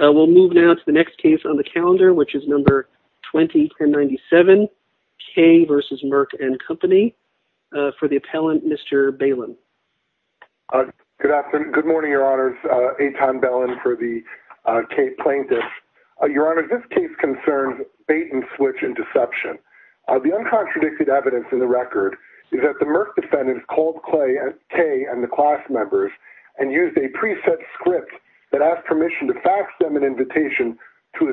We'll move now to the next case on the calendar, which is No. 20-1097, Kaye v. Merck & Co. for the appellant, Mr. Balin. Good afternoon. Good morning, Your Honors. Etan Balin for the Kaye Plaintiffs. Your Honors, this case concerns bait-and-switch and deception. The uncontradicted evidence in the record is that the Merck defendants called Kaye and the class members and used a preset script that asked permission to fax them an invitation to a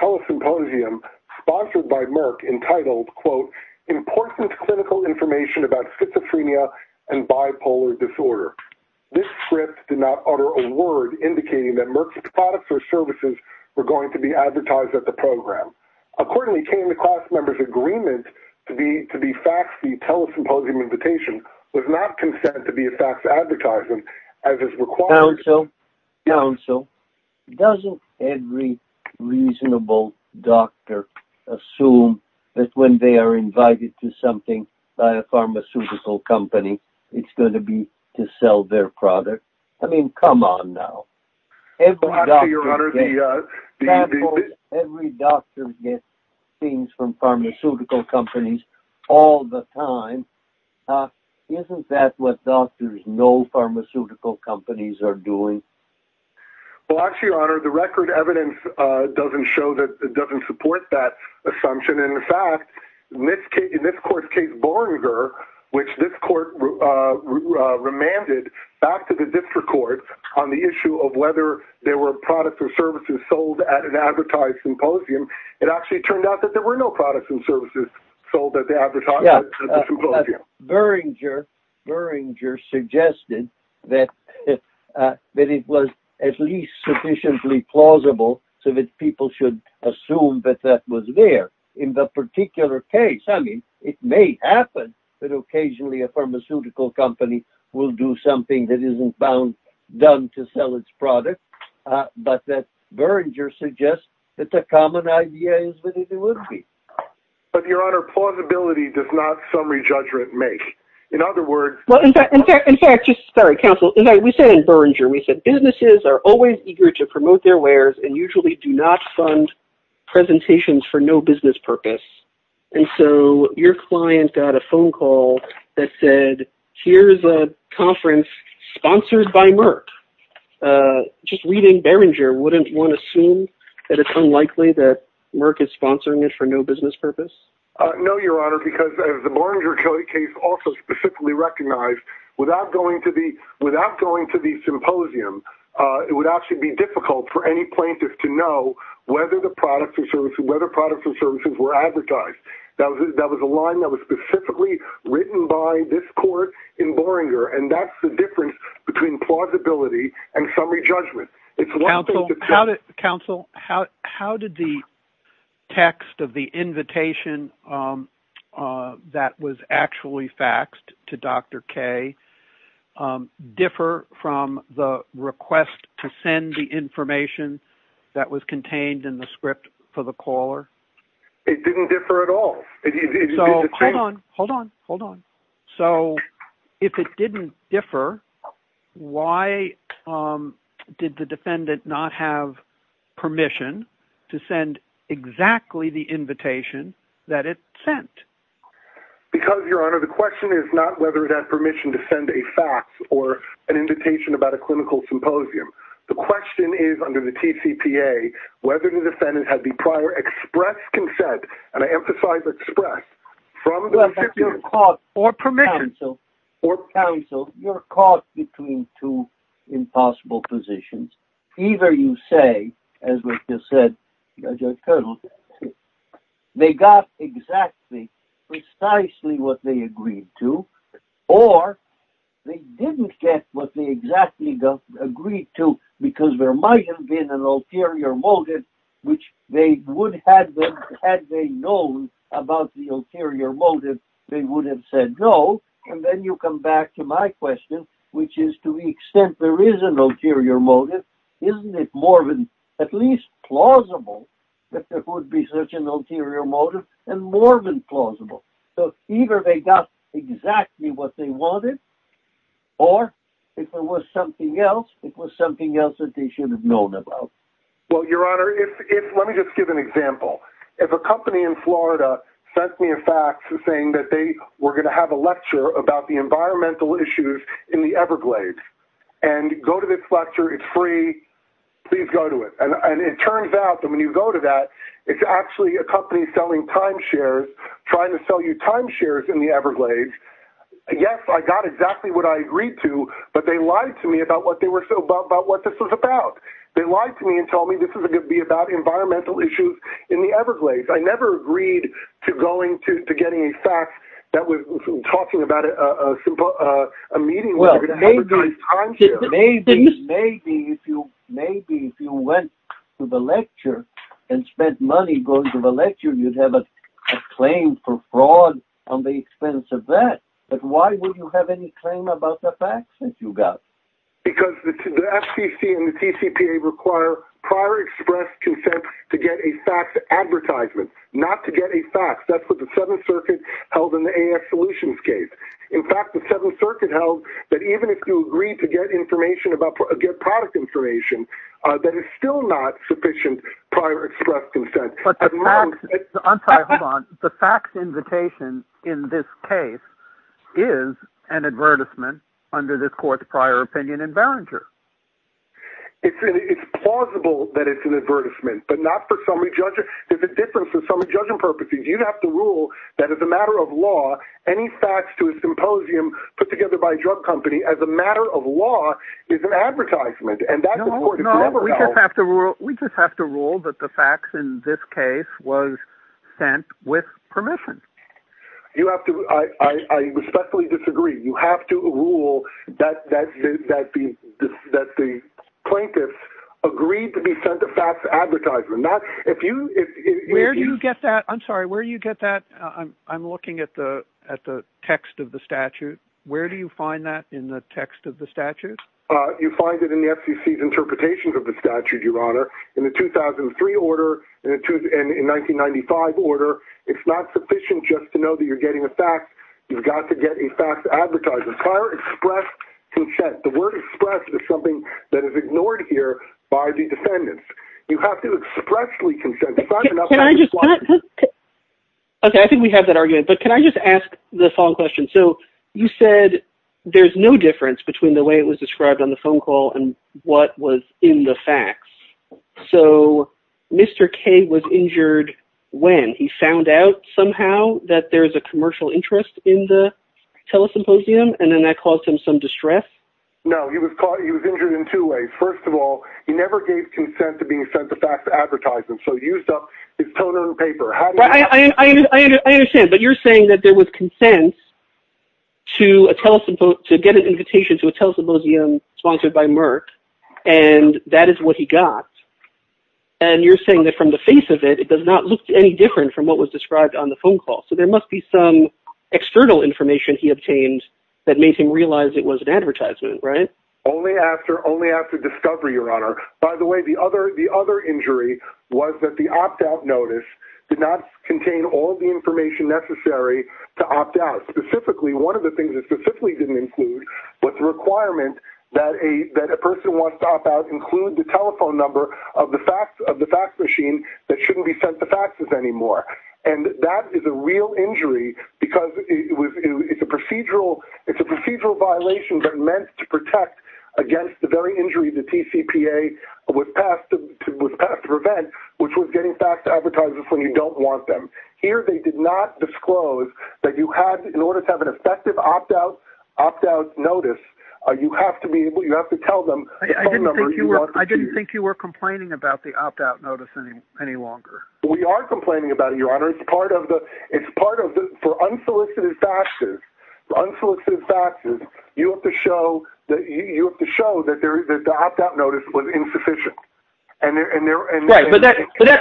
telesymposium sponsored by Merck entitled, quote, Important Clinical Information about Schizophrenia and Bipolar Disorder. This script did not utter a word indicating that Merck's products or services were going to be advertised at the program. Accordingly, Kaye and the class members' agreement to be faxed the unconfirmed information to the class members and the class members' agreement to be faxed the unconfirmed information to the class members and the class members' agreement to be faxed. Well, actually, Your Honor, the record evidence doesn't show that it doesn't support that assumption. In fact, in this court's case, Boringer, which this court remanded back to the district court on the issue of whether there were products or services sold at an advertised symposium, it actually turned out that there were no products and services sold at the advertised symposium. Boringer suggested that it was at least sufficiently plausible so that people should assume that that was there. In the particular case, I mean, it may happen that occasionally a pharmaceutical company will do something that isn't bound, done to sell its product, but that Boringer suggests that the common idea is that it would be. But, Your Honor, plausibility does not summary judgment make. In other words... Well, in fact, just sorry, counsel. In fact, we said in Boringer, we said businesses are always eager to promote their wares and usually do not fund presentations for no business purpose. And so your client got a phone call that said, here's a conference sponsored by Merck. Just reading Boringer, wouldn't one assume that it's unlikely that Merck is sponsoring it for no business purpose? No, Your Honor, because the Boringer case also specifically recognized without going to the symposium, it would actually be difficult for any plaintiff to know whether the products or services were advertised. That was a line that was specifically written by this court in Boringer. And that's the difference between plausibility and summary text of the invitation that was actually faxed to Dr. K differ from the request to send the information that was contained in the script for the caller? It didn't differ at all. So hold on, hold on, hold on. So if it didn't differ, why did the defendant not have permission to send exactly the invitation that it sent? Because, Your Honor, the question is not whether it had permission to send a fax or an invitation about a clinical symposium. The question is under the TCPA, whether the defendant had the prior express consent, and I emphasize express, from the recipient or counsel, or counsel, you're caught between two impossible positions. Either you say, as was just said, Judge Cardinal, they got exactly, precisely what they agreed to, or they didn't get what they exactly agreed to, because there might have been an ulterior motive, which they would have, had they known about the ulterior motive, they would have said no. And then you come back to my question, which is to the extent there is an ulterior motive, isn't it more than at least plausible that there would be such an ulterior motive, and more than plausible? So either they got exactly what they wanted, or if there was something else, it was something else that they should have known about. Well, Your Honor, if, let me just give an example. If a company in Florida sent me a fax saying that they were going to have a lecture about the environmental issues in the Everglades, and go to this lecture, it's free, please go to it. And it turns out that when you go to that, it's actually a company selling timeshares, trying to sell you timeshares in the Everglades. Yes, I got exactly what I agreed to, but they lied to me about what this was about. They lied to me and told me this was going to be about environmental issues in the Everglades. I never agreed to going to getting a fax that was talking about a meeting where you could advertise timeshares. Maybe if you went to the lecture and spent money going to the lecture, you'd have a claim for fraud on the expense of that. But why would you have any claim about the fax that you got? Because the FCC and the TCPA require prior express consent to get a fax advertisement. Not to get a fax. That's what the Seventh Circuit held in the AF Solutions case. In fact, the Seventh Circuit held that even if you agreed to get product information, that is still not sufficient prior express consent. But the fax invitation in this case is an advertisement under this court's prior opinion in Behringer. It's plausible that it's an advertisement, but not for summary judging. There's a difference for summary judging purposes. You have to rule that as a matter of law, any fax to a symposium put together by a drug company as a matter of law is an advertisement. And that's important. No, we just have to rule that the fax in this case was sent with permission. I respectfully disagree. You have to rule that the plaintiffs agreed to be sent a fax advertisement. Where do you get that? I'm sorry, where do you get that? I'm looking at the text of the statute. Where do you find that in the text of the statute? You find it in the FCC's interpretations of the statute, Your Honor. In the 2003 order and in 1995 order, it's not sufficient just to know that you're getting a fax. You've got to get a fax advertisement. The word express is something that is ignored here by the defendants. You have to expressly consent. Okay, I think we have that argument, but can I just ask the following question? So you said there's no difference between the way it was described on the phone call and what was in the fax. So Mr. K was injured when he found out somehow that there's a commercial interest in the telesymposium, and then that caused him some distress? No, he was injured in two ways. First of all, he never gave consent to being sent the fax advertisement, so he used up his toner and paper. I understand, but you're saying that there was consent to get an invitation to a telesymposium sponsored by Merck, and that is what he got. And you're saying that from the face of it, it does not look any different from what was there. There must be some external information he obtained that made him realize it was an advertisement, right? Only after discovery, Your Honor. By the way, the other injury was that the opt-out notice did not contain all the information necessary to opt out. Specifically, one of the things it specifically didn't include was the requirement that a person who wants to opt out include the telephone number of the fax machine that shouldn't be sent the faxes anymore, and that is a real injury because it's a procedural violation that's meant to protect against the very injury the TCPA was passed to prevent, which was getting fax advertisers when you don't want them. Here, they did not disclose that in order to have an effective opt-out notice, you have to tell them the phone number. I didn't think you were complaining about the part of the... It's part of the... For unsolicited faxes, you have to show that the opt-out notice was insufficient. Right, but that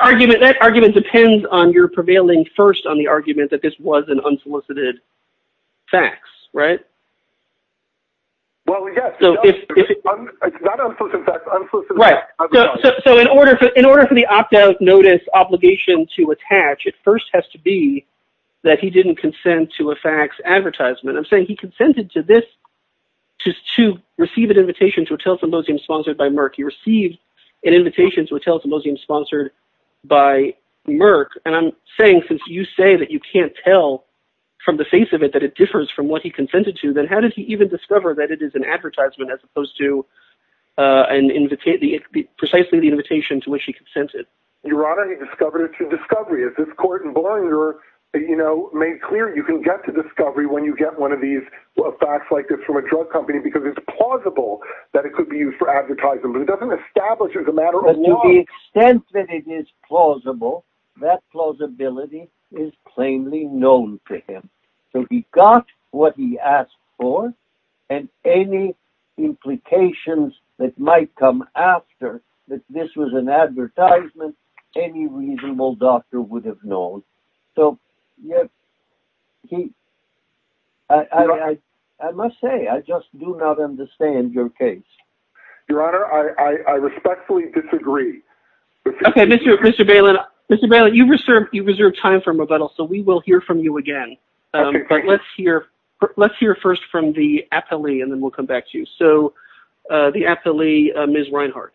argument depends on your prevailing first on the argument that this was an unsolicited fax, right? Well, yes. It's not unsolicited fax, unsolicited fax. So, in order for the opt-out notice obligation to attach, it first has to be that he didn't consent to a fax advertisement. I'm saying he consented to this, just to receive an invitation to a telephone symposium sponsored by Merck. He received an invitation to a telephone symposium sponsored by Merck, and I'm saying since you say that you can't tell from the face of it that it differs from what he consented to, then how did he even discover that it is an advertisement as opposed to precisely the invitation to which he consented? Your Honor, he discovered it through discovery. As this court in Bollinger made clear, you can get to discovery when you get one of these fax like this from a drug company because it's plausible that it could be used for advertising, but it doesn't establish as a matter of fact. To the extent that it is plausible, that plausibility is plainly known to him. So, he got what he asked for, and any implications that might come after that this was an advertisement, any reasonable doctor would have known. So, I must say, I just do not understand your case. Your Honor, I respectfully disagree. Okay, Mr. Bailyn, you've reserved time for rebuttal, so we will hear from you again, but let's hear first from the appellee, and then we'll come back to you. So, the appellee, Ms. Reinhart.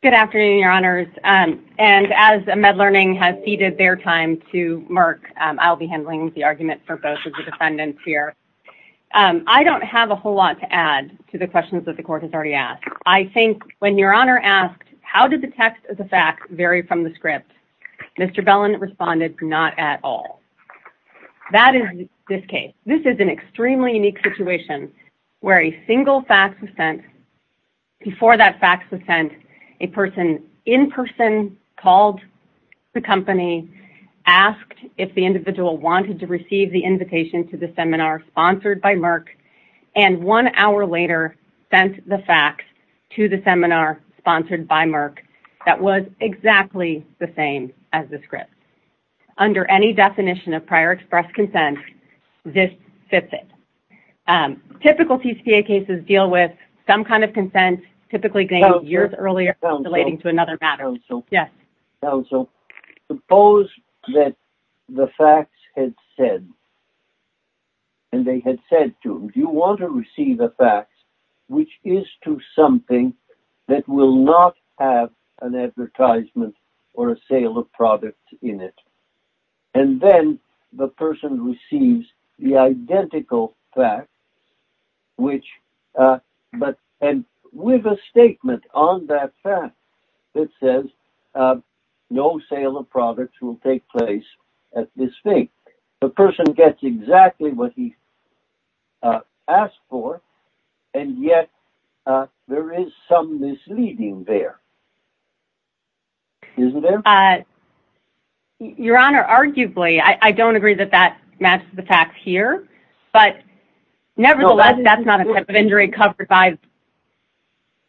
Good afternoon, Your Honors, and as MedLearning has ceded their time to Merck, I'll be handling the argument for both of the defendants here. I don't have a whole lot to add to the questions that the court has already asked. I think when Your Honor asked, how did the text of the fact vary from the script, Mr. Bailyn responded, not at all. That is this case. This is an extremely unique situation where a single fax was sent. Before that fax was sent, a person in person called the company, asked if the individual wanted to receive the invitation to the seminar sponsored by Merck, and one hour later sent the fax to the seminar sponsored by Merck. That was exactly the same as the script. Under any definition of prior express consent, this fits it. Typical TCPA cases deal with some kind of consent, typically dated years earlier, relating to another matter. Counsel, suppose that the fax had said, and they had said to, do you want to receive a fax which is to something that will not have an advertisement or a sale of product in it? And then the person receives the identical fax, and with a statement on that fax that says, no sale of products will take place at this date. The person gets exactly what he asked for, and yet there is some misleading there, isn't there? Your Honor, arguably, I don't agree that that matches the fax here, but nevertheless, that's not a type of injury covered by,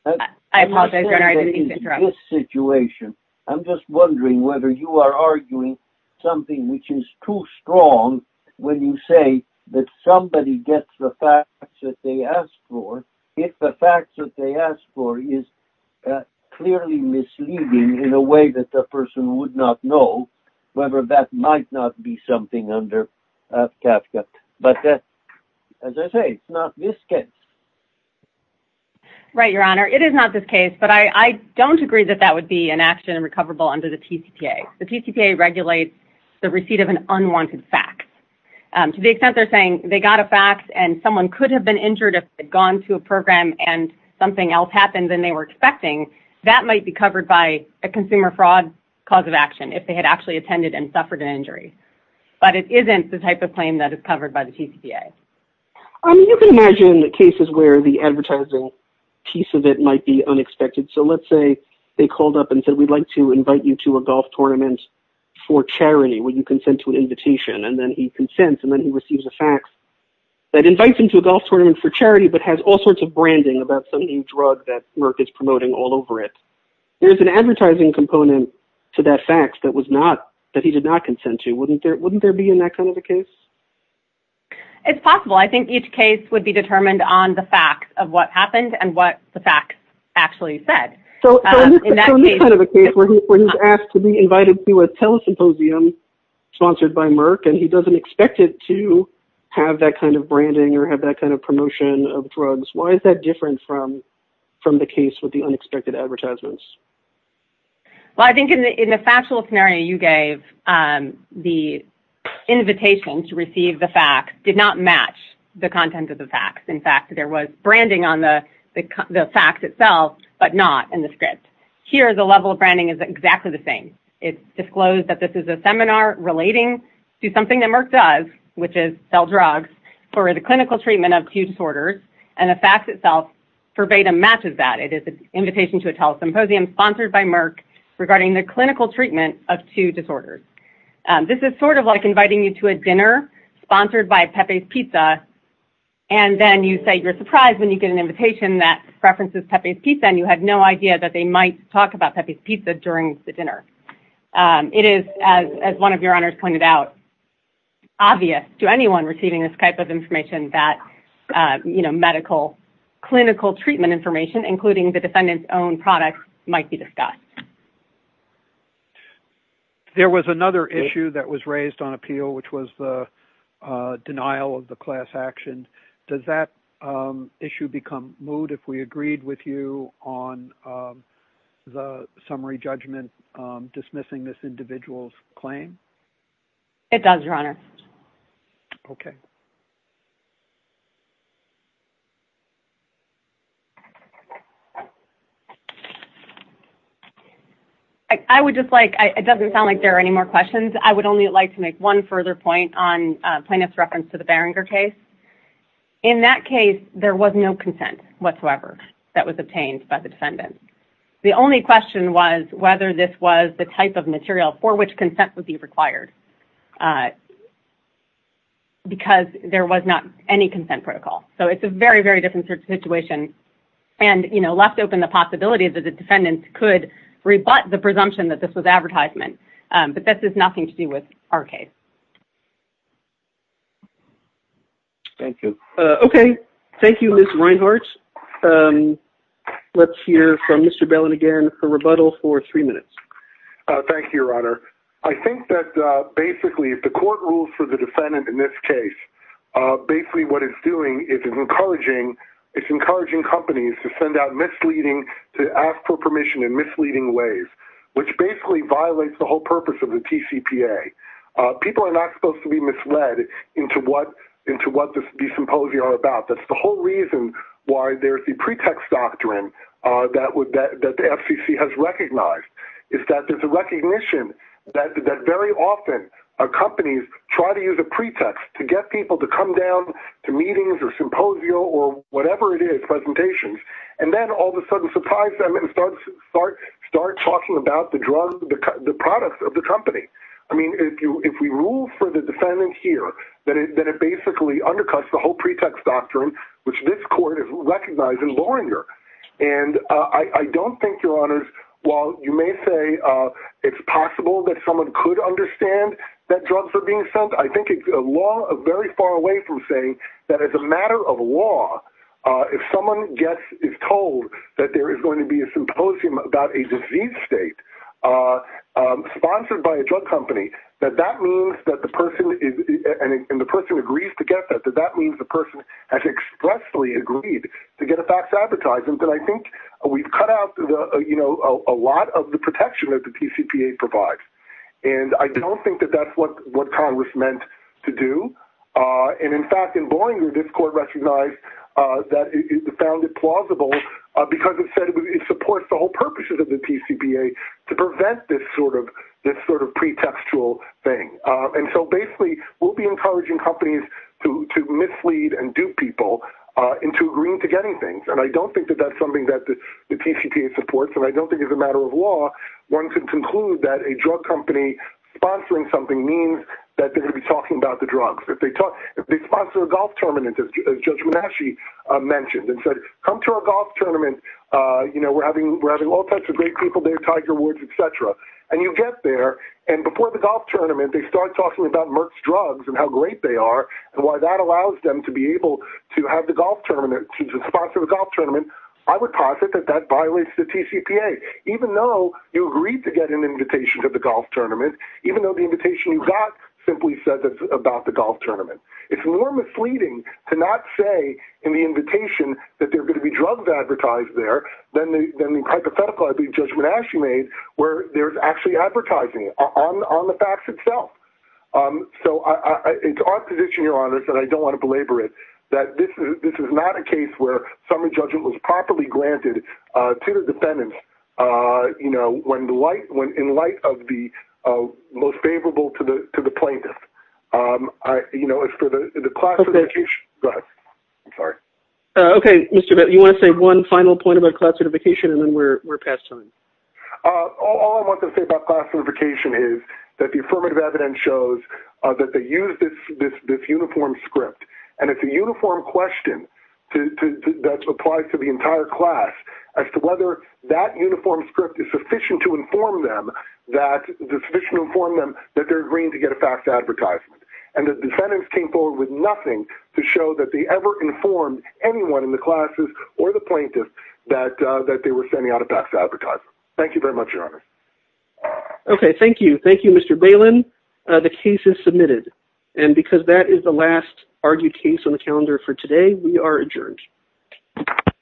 I apologize, Your Honor, I didn't mean to interrupt. In this situation, I'm just wondering whether you are arguing something which is too strong when you say that somebody gets the fax that they asked for, if the fax that they asked for is clearly misleading in a way that the person would not know, whether that might not be something under Kafka. But as I say, it's not this case. Right, Your Honor, it is not this case, but I don't agree that that would be an action recoverable under the TCPA. The TCPA regulates the receipt of an unwanted fax. To the extent they're saying they got a fax and someone could have been injured if they'd gone to a program and something else happened than they were expecting, that might be covered by a consumer fraud cause of action if they had actually attended and suffered an injury. But it isn't the type of claim that is covered by the TCPA. I mean, you can imagine the cases where the advertising piece of it might be unexpected. So let's say they called up and said, we'd like to invite you to a golf tournament for charity. Will you consent to an invitation? And then he consents, and then he receives a fax that invites him to a golf tournament for charity, but has all sorts of branding about some new drug that Merck is promoting all over it. There's an advertising component to that fax that he did not consent to. Wouldn't there be in that kind of a case? It's possible. I think each case would be determined on the facts of what happened and what the facts actually said. So in this kind of a case where he's asked to be invited to a telesymposium sponsored by Merck, and he doesn't expect it to have that kind of branding or have that kind of promotion of drugs, why is that different from the case with the unexpected advertisements? Well, I think in the factual scenario, you gave the invitation to an invitation to receive the fax did not match the content of the fax. In fact, there was branding on the fax itself, but not in the script. Here, the level of branding is exactly the same. It disclosed that this is a seminar relating to something that Merck does, which is sell drugs for the clinical treatment of two disorders, and the fax itself verbatim matches that. It is an invitation to a telesymposium sponsored by Merck regarding the clinical treatment of two disorders. This is sort of like inviting you to a dinner sponsored by Pepe's Pizza, and then you say you're surprised when you get an invitation that preferences Pepe's Pizza, and you have no idea that they might talk about Pepe's Pizza during the dinner. It is, as one of your honors pointed out, obvious to anyone receiving this type of information that, you know, medical clinical treatment information, including the defendant's own products, might be discussed. Okay. There was another issue that was raised on appeal, which was the denial of the class action. Does that issue become moot if we agreed with you on the summary judgment dismissing this individual's claim? It does, your honor. Okay. I would just like, it doesn't sound like there are any more questions. I would only like to make one further point on plaintiff's reference to the Barringer case. In that case, there was no consent whatsoever that was obtained by the defendant. The only question was whether this was the type of material for which consent would be required, because there was not any consent protocol. So it's a very, very different situation, and, you know, left open the possibility that the defendant could rebut the presumption that this was advertisement. But this is nothing to do with our case. Thank you. Okay. Thank you, Ms. Reinhart. Let's hear from Mr. Bellin again for rebuttal for three minutes. Thank you, your honor. I think that basically if the court rules for the defendant in this case, basically what it's doing is it's encouraging companies to send out misleading, to ask for permission in misleading ways, which basically violates the whole purpose of the TCPA. People are not supposed to be misled into what these symposia are about. That's the whole reason why there's the pretext doctrine that the FCC has recognized, is that there's a recognition that very often companies try to use a pretext to get people to come down to meetings or symposia or whatever it is, presentations, and then all of a sudden surprise them and start talking about the drug, the products of the company. I mean, if we rule for the defendant here, that it basically undercuts the whole pretext doctrine, which this court has recognized in Loringer. I don't think, your honors, while you may say it's possible that someone could understand that drugs are being sent, I think it's a law very far away from saying that as a matter of law, if someone is told that there is going to be a symposium about a disease state sponsored by a drug company, that that means that the person agrees to get that, that that means the person has expressly agreed to get a fax advertising, then I think we've cut out a lot of the protection that the TCPA provides. I don't think that that's what Congress meant to do. In fact, in Loringer, this court recognized that it found it plausible because it said it supports the whole purposes of the TCPA to prevent this sort of pretextual thing. And so basically, we'll be encouraging companies to mislead and dupe people into agreeing to getting things. And I don't think that that's something that the TCPA supports, and I don't think it's a matter of law. One could conclude that a drug company sponsoring something means that they're going to be talking about the drugs. If they sponsor a golf tournament, as Judge Menasci mentioned, and said, come to our golf tournament, we've got great people there, Tiger Woods, et cetera. And you get there, and before the golf tournament, they start talking about Merck's drugs and how great they are, and why that allows them to be able to have the golf tournament, to sponsor the golf tournament. I would posit that that violates the TCPA, even though you agreed to get an invitation to the golf tournament, even though the invitation you got simply said that it's about the golf tournament. It's more misleading to not say in the invitation that there are going to be drugs advertised there than the hypothetical, I believe, Judge Menasci made, where there's actually advertising on the facts itself. So it's our position, Your Honor, that I don't want to belabor it, that this is not a case where summary judgment was properly granted to the defendant in light of the most favorable to the plaintiff. As for the classification, go ahead. I'm sorry. Okay, Mr. Bitt, you want to say one final point about classification, and then we're past time. All I want to say about classification is that the affirmative evidence shows that they used this uniform script, and it's a uniform question that applies to the entire class as to whether that uniform script is sufficient to inform them that they're agreeing to get a fact advertisement. And the defendants came forward with nothing to show that they ever informed anyone in the classes or the plaintiffs that they were sending out a fact advertisement. Thank you very much, Your Honor. Okay, thank you. Thank you, Mr. Bailyn. The case is submitted. And because that is the last argued case on the calendar for today, we are adjourned.